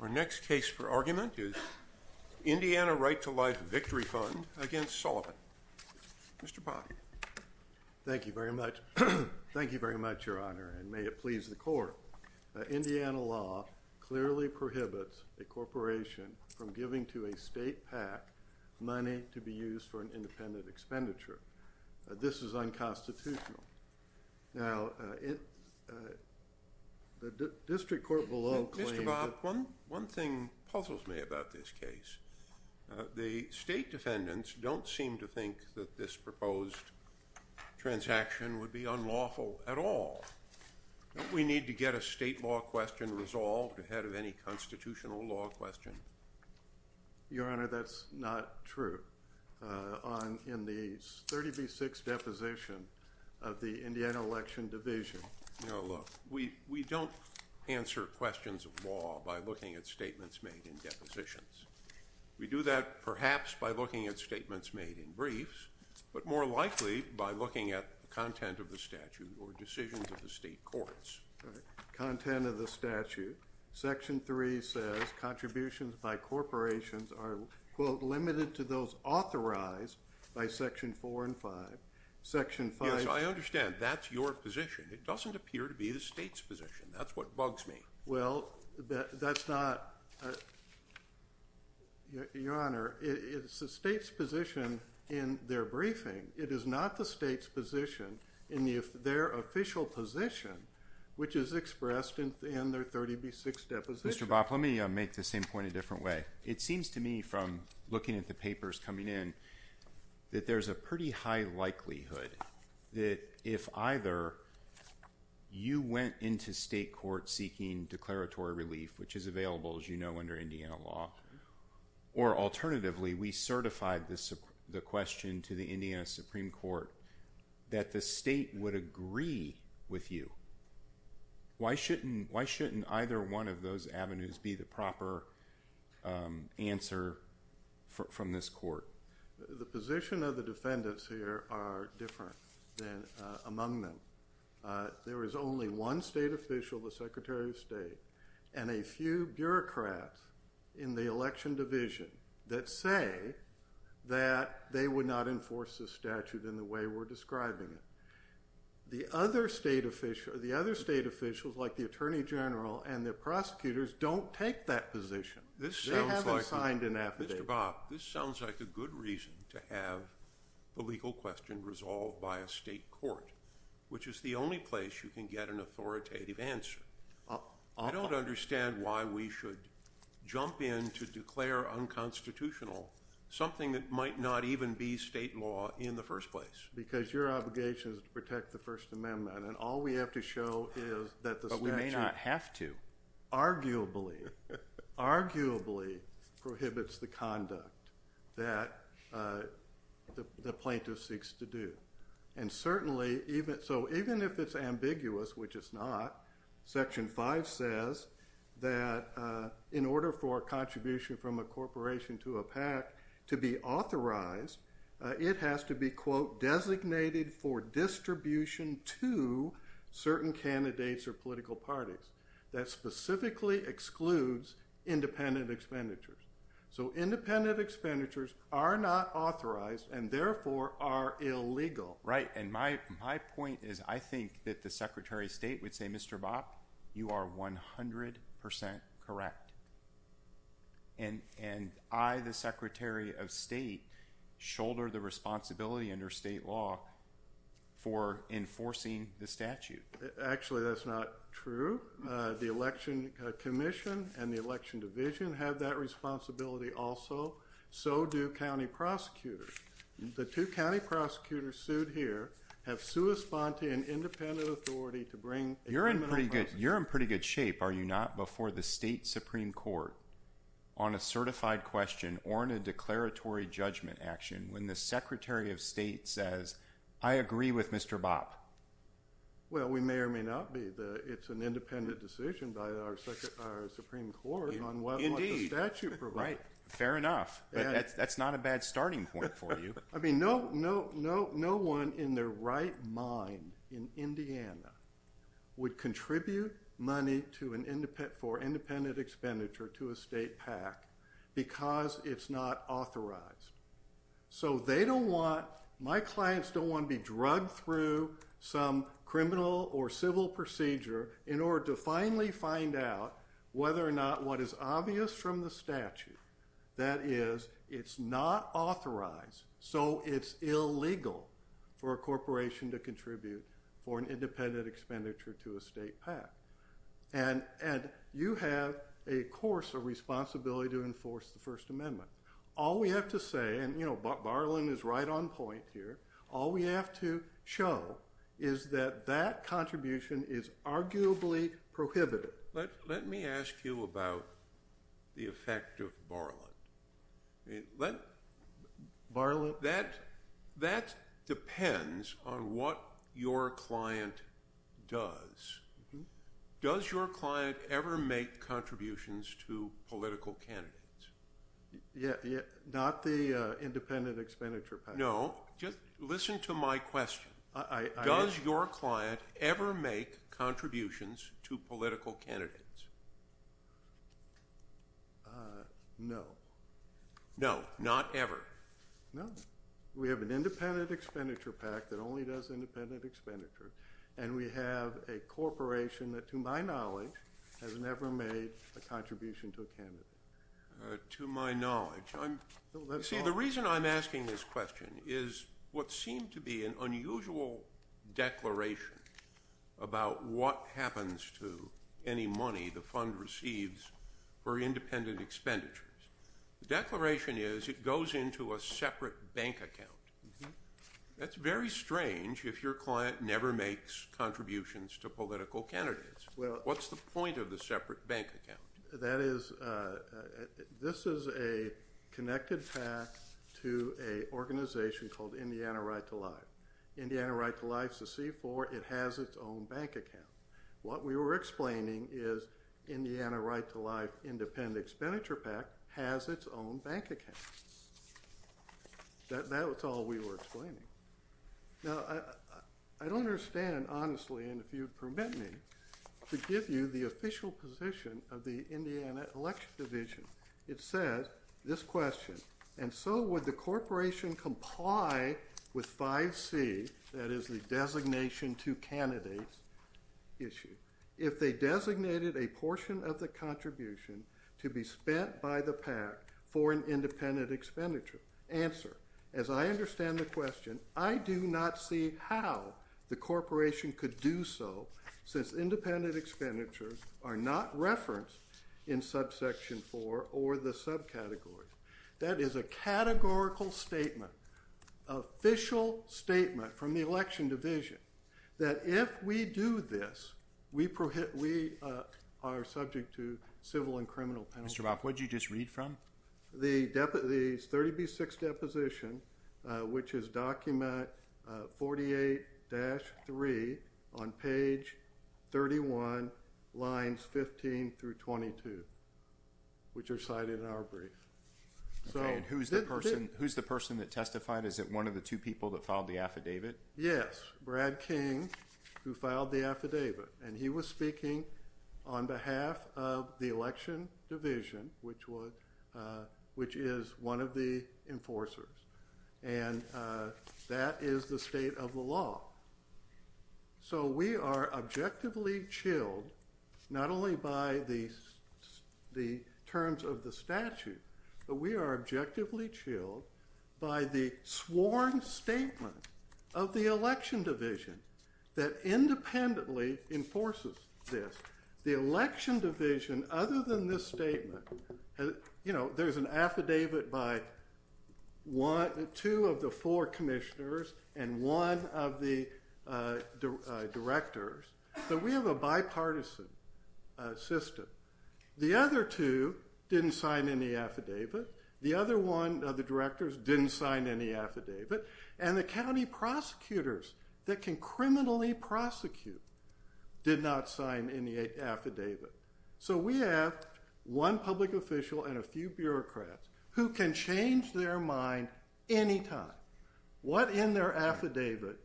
Our next case for argument is Indiana Right to Life Victory Fund against Sullivan. Mr. Pott. Thank you very much. Thank you very much, Your Honor, and may it please the court. Indiana law clearly prohibits a corporation from giving to a state PAC money to be used for an independent expenditure. This is Mr. Bopp, one thing puzzles me about this case. The state defendants don't seem to think that this proposed transaction would be unlawful at all. Don't we need to get a state law question resolved ahead of any constitutional law question? Your Honor, that's not true. In the 30 v. 6 deposition of the Indiana Election Division. No, look, we don't answer questions of law by looking at statements made in depositions. We do that perhaps by looking at statements made in briefs, but more likely by looking at the content of the statute or decisions of the state courts. Content of the statute. Section 3 says contributions by corporations are, quote, limited to those authorized by Section 4 and 5. Section 5... It doesn't appear to be the state's position. That's what bugs me. Well, that's not... Your Honor, it's the state's position in their briefing. It is not the state's position in their official position, which is expressed in their 30 v. 6 deposition. Mr. Bopp, let me make the same point a different way. It seems to me from looking at the papers coming in that there's a pretty high likelihood that if either you went into state court seeking declaratory relief, which is available, as you know, under Indiana law, or alternatively we certified the question to the Indiana Supreme Court that the state would agree with you, why shouldn't either one of those avenues be the proper answer from this different than among them? There is only one state official, the Secretary of State, and a few bureaucrats in the election division that say that they would not enforce the statute in the way we're describing it. The other state officials, like the Attorney General and the prosecutors, don't take that position. They haven't signed an affidavit. Mr. Bopp, this sounds like a good reason to have the legal question resolved by a state court, which is the only place you can get an authoritative answer. I don't understand why we should jump in to declare unconstitutional something that might not even be state law in the first place. Because your obligation is to protect the First Amendment and all we have to show is that the statute... But we may not have to. Arguably, arguably prohibits the conduct that the plaintiff seeks to do. And certainly, even if it's ambiguous, which it's not, Section 5 says that in order for a contribution from a corporation to a PAC to be authorized, it has to be, quote, designated for distribution to certain candidates or political parties. That specifically excludes independent expenditures. So independent expenditures are not authorized and therefore are illegal. Right, and my point is I think that the Secretary of State would say, Mr. Bopp, you are 100% correct. And I, the Secretary of State, shoulder the responsibility. Actually, that's not true. The Election Commission and the Election Division have that responsibility also. So do county prosecutors. The two county prosecutors sued here have sua sponte and independent authority to bring... You're in pretty good, you're in pretty good shape, are you not, before the state Supreme Court on a certified question or in a declaratory judgment action when the Secretary of State says, I agree with Mr. Bopp? Well, we may or may not be. It's an independent decision by our Supreme Court on what the statute provides. Fair enough. That's not a bad starting point for you. I mean, no, no, no, no one in their right mind in Indiana would contribute money for independent expenditure to a state PAC because it's not authorized. So they don't want, my clients don't want to be drug through some criminal or civil procedure in order to finally find out whether or not what is obvious from the statute, that is, it's not authorized so it's illegal for a corporation to have a course of responsibility to enforce the First Amendment. All we have to say, and you know Barlin is right on point here, all we have to show is that that contribution is arguably prohibited. Let me ask you about the effect of Barlin. That depends on what your client does. Does your client ever make contributions to political candidates? Yeah, not the independent expenditure PAC. No, just listen to my question. Does your client ever make contributions to political candidates? No. No, not ever. No, we have an independent expenditure PAC that only does independent expenditure and we have a made a contribution to a candidate. To my knowledge. See, the reason I'm asking this question is what seemed to be an unusual declaration about what happens to any money the fund receives for independent expenditures. The declaration is it goes into a separate bank account. That's very strange if your client never makes contributions to political candidates. Well, what's the point of the separate bank account? That is, this is a connected PAC to a organization called Indiana Right to Life. Indiana Right to Life is a C-4. It has its own bank account. What we were explaining is Indiana Right to Life independent expenditure PAC has its own bank account. That was all we were explaining. Now, I don't understand, honestly, and if you'd permit me, to give you the official position of the Indiana Election Division. It says, this question, and so would the corporation comply with 5C, that is the designation to candidates issue, if they designated a portion of the contribution to be spent by the PAC for an independent expenditure? Answer, as I understand the question, I do not see how the corporation could do so, since independent expenditures are not referenced in subsection 4 or the subcategories. That is a categorical statement, official statement from the Election Division, that if we do this, we are subject to civil and criminal penalty. Mr. Boff, what did you just read from? The 30B6 deposition, which is document 48-3 on page 31, lines 15 through 22, which are cited in our brief. Okay, and who's the person, who's the person that testified? Is it one of the two people that filed the affidavit? Yes, Brad King, who filed the affidavit, and he was speaking on behalf of the Election Division, which was, which is one of the enforcers, and that is the state of the law. So we are objectively chilled, not only by the terms of the statute, but we are objectively chilled by the sworn statement of the Election Division that there's an affidavit by two of the four commissioners and one of the directors, but we have a bipartisan system. The other two didn't sign any affidavit, the other one of the directors didn't sign any affidavit, and the county prosecutors that can criminally prosecute did not sign any affidavit. So we have one public official and a few bureaucrats who can change their mind anytime. What in their affidavit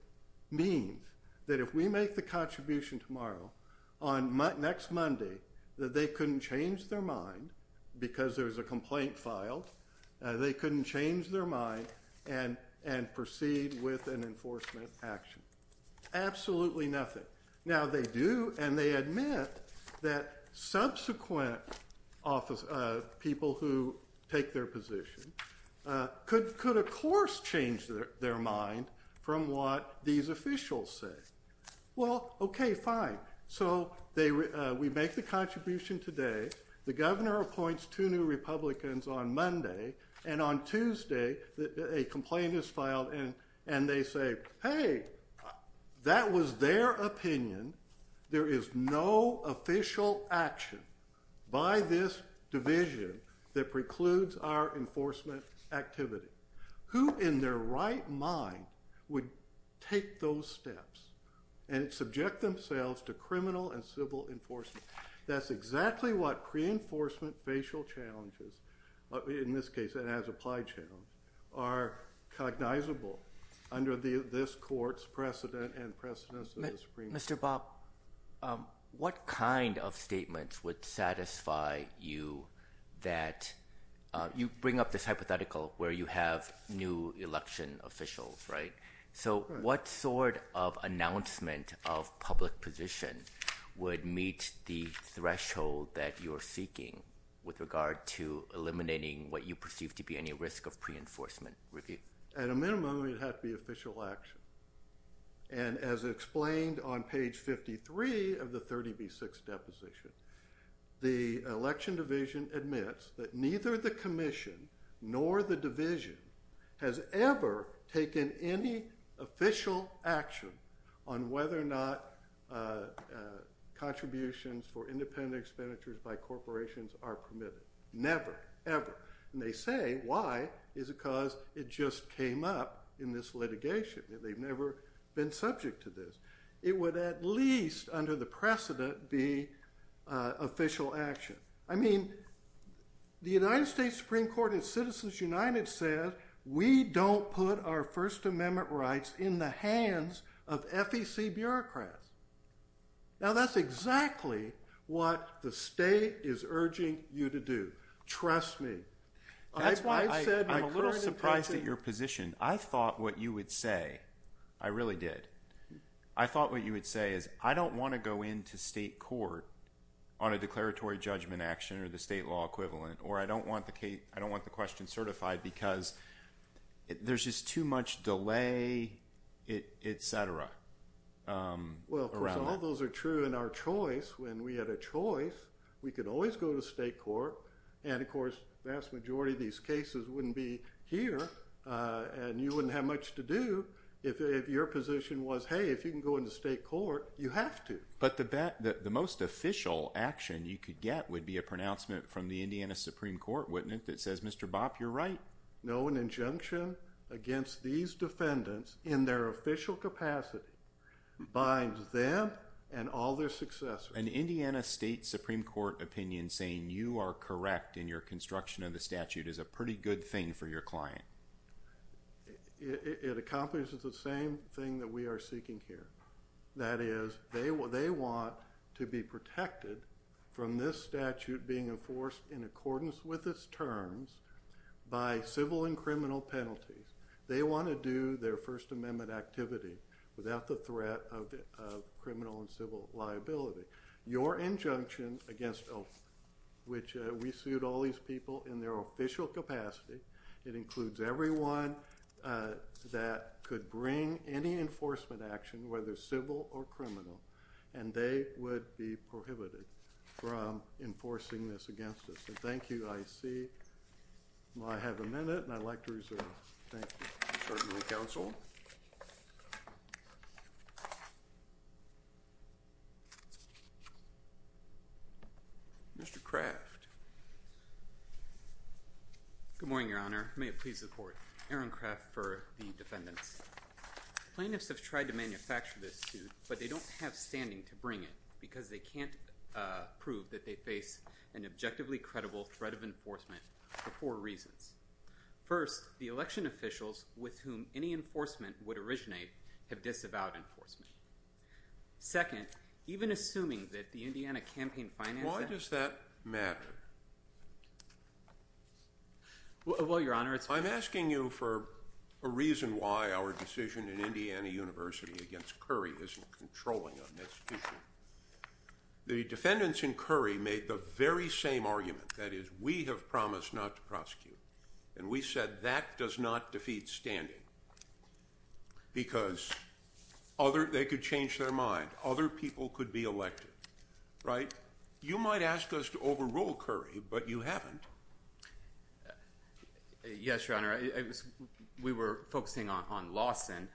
means that if we make the contribution tomorrow, on next Monday, that they couldn't change their mind because there was a complaint filed, they couldn't change their mind and, and proceed with an enforcement action. Absolutely nothing. Now they do, and they admit that subsequent office, people who take their position, could, could of course change their mind from what these officials say. Well, okay, fine. So they, we make the contribution today, the governor appoints two new Republicans on Monday, and on Tuesday a complaint is filed and, and they say, hey, that was their opinion, there is no official action by this division that precludes our enforcement activity. Who in their right mind would take those steps and subject themselves to criminal and civil enforcement? That's exactly what pre-enforcement facial challenges, in this case it has applied channels, are cognizable under the, this court's precedent and precedents. Mr. Bob, what kind of statements would satisfy you that you bring up this hypothetical where you have new election officials, right? So what sort of announcement of public position would meet the threshold that you're seeking with regard to enforcement? At a minimum, it had to be official action. And as explained on page 53 of the 30B6 deposition, the election division admits that neither the commission nor the division has ever taken any official action on whether or not contributions for independent expenditures by corporations are permitted. Never, ever. And they say, why? It's because it just came up in this litigation. They've never been subject to this. It would at least under the precedent be official action. I mean, the United States Supreme Court and Citizens United said we don't put our First Amendment rights in the hands of FEC to do. Trust me. I'm a little surprised at your position. I thought what you would say, I really did, I thought what you would say is I don't want to go into state court on a declaratory judgment action or the state law equivalent, or I don't want the question certified because there's just too much delay, etc. Well, of course, all those are true in our choice. When we had a choice, we could always go to state court. And of course, the vast majority of these cases wouldn't be here and you wouldn't have much to do if your position was, hey, if you can go into state court, you have to. But the most official action you could get would be a pronouncement from the Indiana Supreme Court, wouldn't it, that says, Mr. Bopp, you're right. No, an injunction against these defendants in their official capacity binds them and all their successors. An Indiana State Supreme Court opinion saying you are correct in your construction of the statute is a pretty good thing for your client. It accomplishes the same thing that we are seeking here. That is, they want to be protected from this statute being enforced in accordance with its terms by civil and criminal penalties. They want to do their First Amendment activity without the threat of criminal and civil liability. Your injunction against, which we sued all these people in their official capacity, it includes everyone that could bring any enforcement action, whether civil or criminal, and they would be prohibited from enforcing this against us. Thank you. I see I have a minute and I'd like to reserve. Thank you. Counsel. Mr. Kraft. Good morning, Your Honor. May it please the court. Aaron Kraft for the defendants. Plaintiffs have tried to manufacture this suit, but they don't have standing to bring it because they can't prove that they face an objectively credible threat of enforcement for four reasons. First, the election officials with whom any enforcement would originate have disavowed enforcement. Second, even assuming that the Indiana campaign finance... Why does that matter? Well, Your Honor, it's... I'm asking you for a reason why our decision in Indiana University against Curry isn't controlling on this issue. The defendants in Curry made the very same argument. That is, we have promised not to prosecute. And we said that does not defeat standing. Because other... they could change their mind. Other people could be elected. Right? You might ask us to overrule Curry, but you haven't. Yes, Your Honor. We were focusing on Lawson.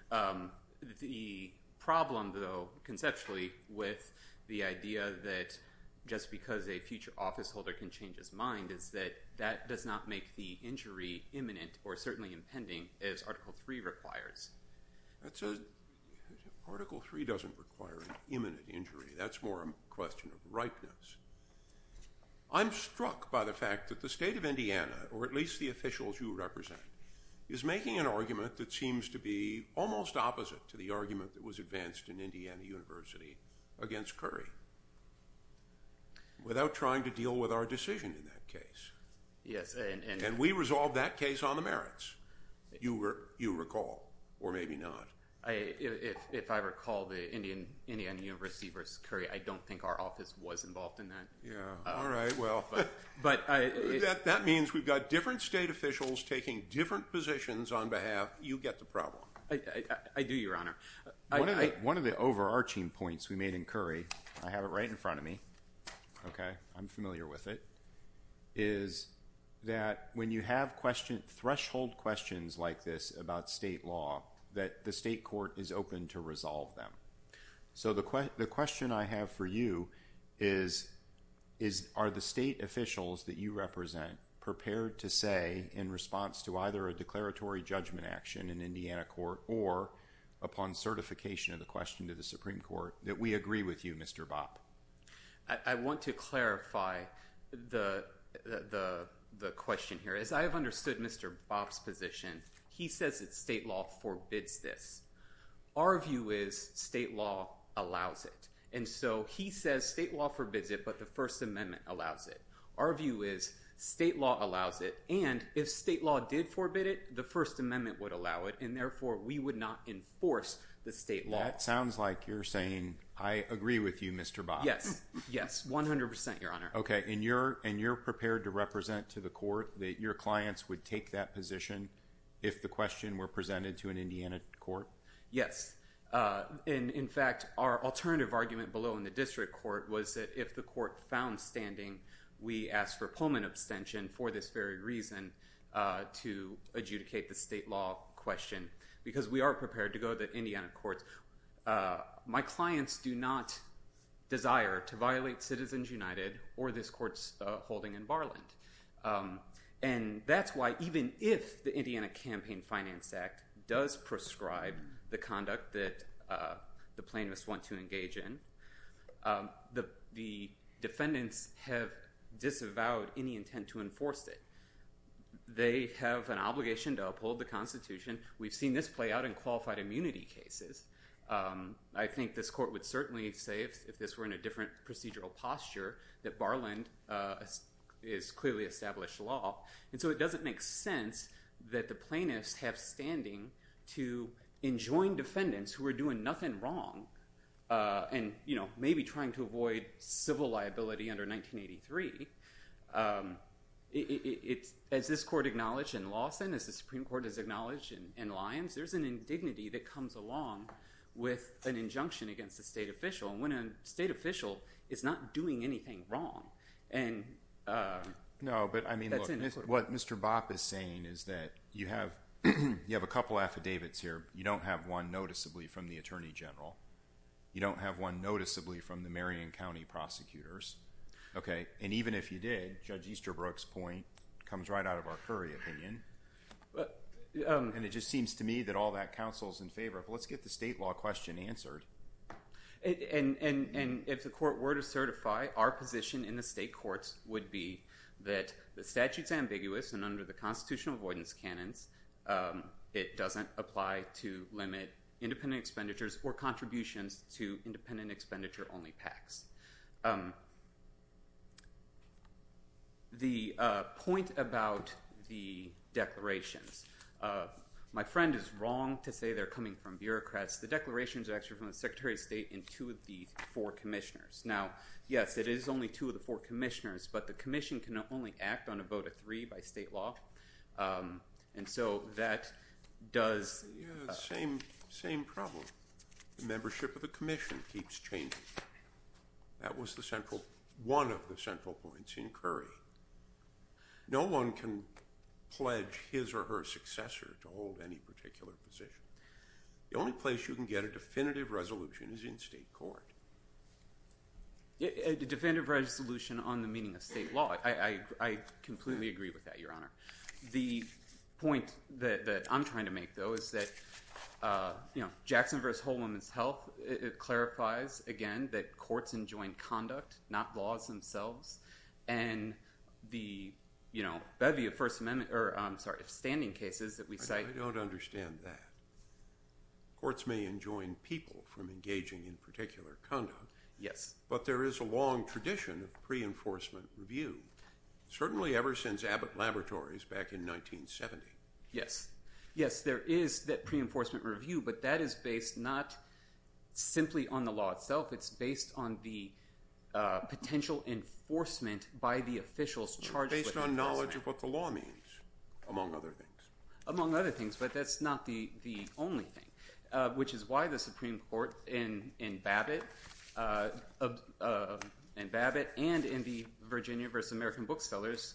The problem, though, conceptually, with the idea that just because a future officeholder can change his mind is that that does not make the injury imminent or certainly impending as Article III requires. That's a... Article III doesn't require an imminent injury. That's more a question of ripeness. I'm struck by the fact that the state of Indiana, or at least the officials you represent, is making an argument that seems to be almost opposite to the argument that was advanced in Indiana University against Curry without trying to deal with our decision in that case. Yes, and... And we resolved that case on the merits. You recall. Or maybe not. If I recall the Indiana University versus Curry, I don't think our office was involved in that. Yeah. All right. Well, that means we've got different state officials taking different positions on behalf. You get the problem. I do, Your Honor. One of the overarching points we made in Curry, I have it right in front of me, okay? I'm familiar with it, is that when you have threshold questions like this about state law, that the state court is open to resolve them. So the question I have for you is, are the state officials that you represent prepared to say, in response to either a declaratory judgment action in Indiana court or upon certification of the question to the Supreme Court, that we agree with you, Mr. Bopp? I want to clarify the question here. As I have understood Mr. Bopp's position, he says that state law forbids this. Our view is state law allows it. And so he says state law forbids it, but the First Amendment allows it. Our view is state law allows it, and if state law did forbid it, the First Amendment would allow it, and therefore we would not enforce the state law. That sounds like you're saying, I agree with you, Mr. Bopp. Yes, yes, 100%, Your Honor. Okay, and you're prepared to represent to the court that your clients would take that position if the question were presented to an Indiana court? Yes. In fact, our alternative argument below in the district court was that if the court found standing, we asked for a Pullman abstention for this very reason, to adjudicate the state law question, because we are prepared to go to the Indiana courts. My clients do not desire to violate Citizens United or this court's holding in Barland. And that's why even if the Indiana Campaign Finance Act does prescribe the conduct that the plaintiffs want to engage in, the defendants have disavowed any intent to enforce it. They have an obligation to uphold the Constitution. We've seen this play out in qualified immunity cases. I think this court would certainly say, if this were in a different procedural posture, that Barland is clearly established law. And so it doesn't make sense that the plaintiffs have standing to enjoin defendants who are doing nothing wrong and maybe trying to avoid civil liability under 1983. As this court acknowledged in Lawson, as the Supreme Court has acknowledged in Lyons, there's an indignity that comes along with an injunction against a state official. And when a state official is not doing anything wrong, that's indignity. No, but what Mr. Bopp is saying is that you have a couple affidavits here. You don't have one noticeably from the Attorney General. You don't have one noticeably from the Marion County prosecutors. And even if you did, Judge Easterbrook's point comes right out of our Curry opinion. And it just seems to me that all that counsel's in favor of, let's get the state law question answered. And if the court were to certify, our position in the state courts would be that the statute's ambiguous, and under the constitutional avoidance canons, it doesn't apply to limit independent expenditures or contributions to independent expenditure-only PACs. The point about the declarations, my friend is wrong to say they're coming from bureaucrats. The declarations are actually from the Secretary of State and two of the four commissioners. Now, yes, it is only two of the four commissioners, but the commission can only act on a vote of three by state law. And so that does – Yeah, same problem. The membership of the commission keeps changing. That was the central – one of the central points in Curry. No one can pledge his or her successor to hold any particular position. The only place you can get a definitive resolution is in state court. A definitive resolution on the meaning of state law. I completely agree with that, Your Honor. The point that I'm trying to make, though, is that Jackson v. Whole Woman's Health clarifies, again, that courts enjoin conduct, not laws themselves. And the bevy of First Amendment – or, I'm sorry, of standing cases that we cite – Yes. But there is a long tradition of pre-enforcement review, certainly ever since Abbott Laboratories back in 1970. Yes. Yes, there is that pre-enforcement review, but that is based not simply on the law itself. It's based on the potential enforcement by the officials charged with enforcement. Based on knowledge of what the law means, among other things. Among other things, but that's not the only thing, which is why the Supreme Court in Babbitt and in the Virginia v. American Booksellers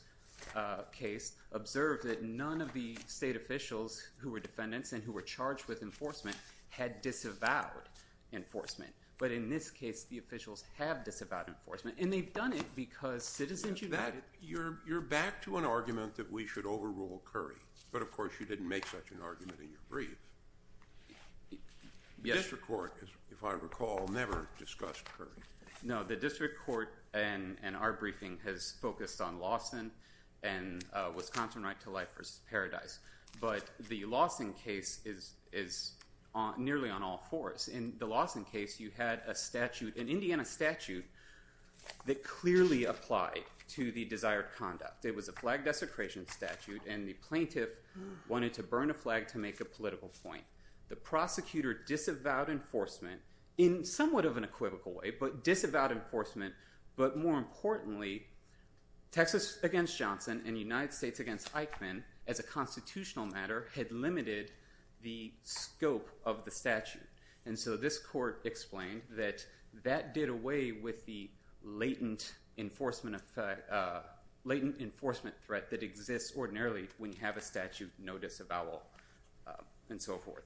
case observed that none of the state officials who were defendants and who were charged with enforcement had disavowed enforcement. But in this case, the officials have disavowed enforcement, and they've done it because Citizens United – You're back to an argument that we should overrule Curry. But, of course, you didn't make such an argument in your brief. Yes. The district court, if I recall, never discussed Curry. No, the district court and our briefing has focused on Lawson and Wisconsin right to life versus paradise. But the Lawson case is nearly on all fours. In the Lawson case, you had a statute, an Indiana statute, that clearly applied to the desired conduct. It was a flag desecration statute, and the plaintiff wanted to burn a flag to make a political point. The prosecutor disavowed enforcement in somewhat of an equivocal way, but disavowed enforcement. But more importantly, Texas v. Johnson and United States v. Eichmann, as a constitutional matter, had limited the scope of the statute. And so this court explained that that did away with the latent enforcement threat that exists ordinarily when you have a statute, no disavowal, and so forth.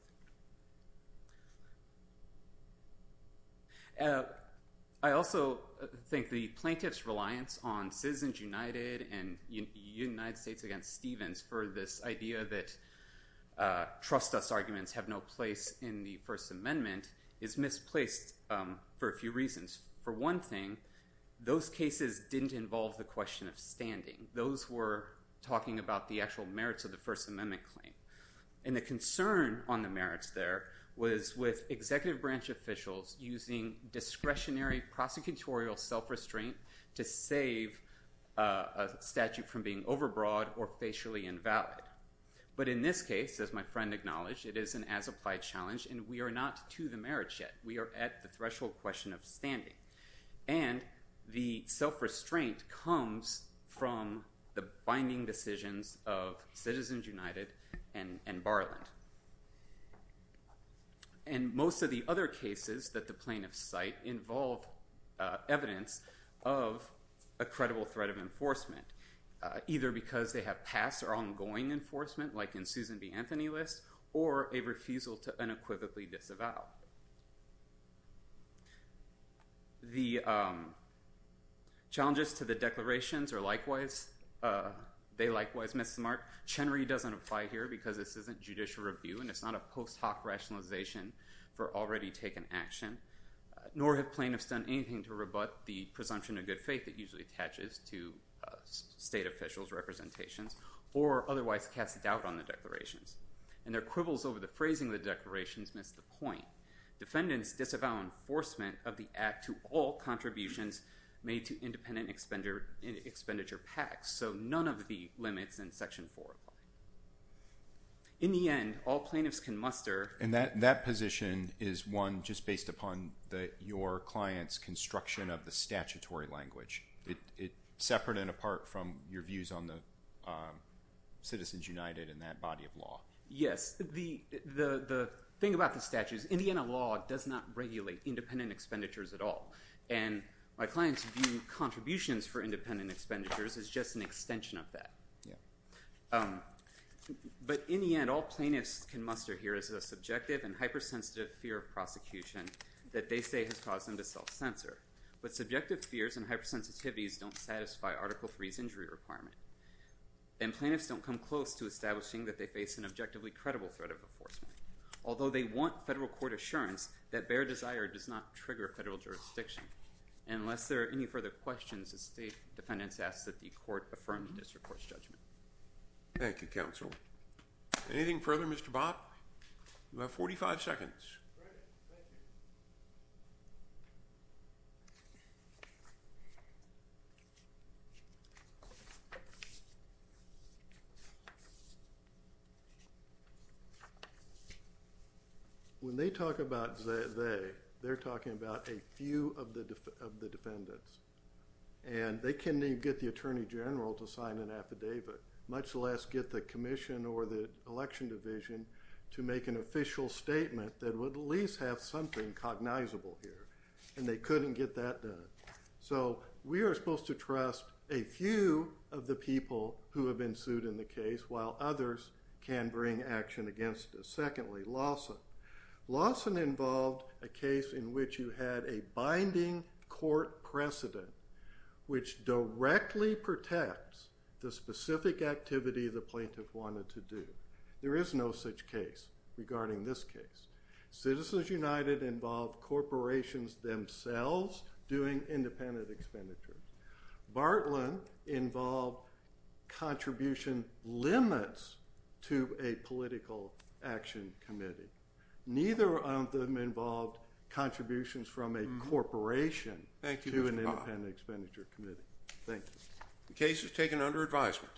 I also think the plaintiff's reliance on Citizens United and United States v. Stevens for this idea that trust us arguments have no place in the First Amendment is misplaced for a few reasons. For one thing, those cases didn't involve the question of standing. Those were talking about the actual merits of the First Amendment claim. And the concern on the merits there was with executive branch officials using discretionary prosecutorial self-restraint to save a statute from being overbroad or facially invalid. But in this case, as my friend acknowledged, it is an as-applied challenge, and we are not to the merits yet. We are at the threshold question of standing. And the self-restraint comes from the binding decisions of Citizens United and Barland. And most of the other cases that the plaintiffs cite involve evidence of a credible threat of enforcement, either because they have past or ongoing enforcement, like in Susan B. Anthony List, or a refusal to unequivocally disavow. The challenges to the declarations are likewise, they likewise miss the mark. Chenry doesn't apply here because this isn't judicial review, and it's not a post hoc rationalization for already taken action. Nor have plaintiffs done anything to rebut the presumption of good faith that usually attaches to state officials' representations, or otherwise cast doubt on the declarations. And their quibbles over the phrasing of the declarations miss the point. Defendants disavow enforcement of the act to all contributions made to independent expenditure packs. So none of the limits in Section 4 apply. In the end, all plaintiffs can muster... Yes, the thing about the statute is, in the end, a law does not regulate independent expenditures at all. And my client's view, contributions for independent expenditures is just an extension of that. But in the end, all plaintiffs can muster here is a subjective and hypersensitive fear of prosecution that they say has caused them to self-censor. But subjective fears and hypersensitivities don't satisfy Article 3's injury requirement. And plaintiffs don't come close to establishing that they face an objectively credible threat of enforcement. Although they want federal court assurance that bare desire does not trigger federal jurisdiction. And unless there are any further questions, the state defendants ask that the court affirm the district court's judgment. Thank you, counsel. Anything further, Mr. Bott? You have 45 seconds. When they talk about they, they're talking about a few of the defendants. And they can't even get the attorney general to sign an affidavit, much less get the commission or the election division to make an official statement that would at least have something cognizable here. And they couldn't get that done. So we are supposed to trust a few of the people who have been sued in the case while others can bring action against us. Secondly, Lawson. Lawson involved a case in which you had a binding court precedent which directly protects the specific activity the plaintiff wanted to do. There is no such case regarding this case. Citizens United involved corporations themselves doing independent expenditures. Bartlett involved contribution limits to a political action committee. Neither of them involved contributions from a corporation to an independent expenditure committee. Thank you. The case is taken under advisement.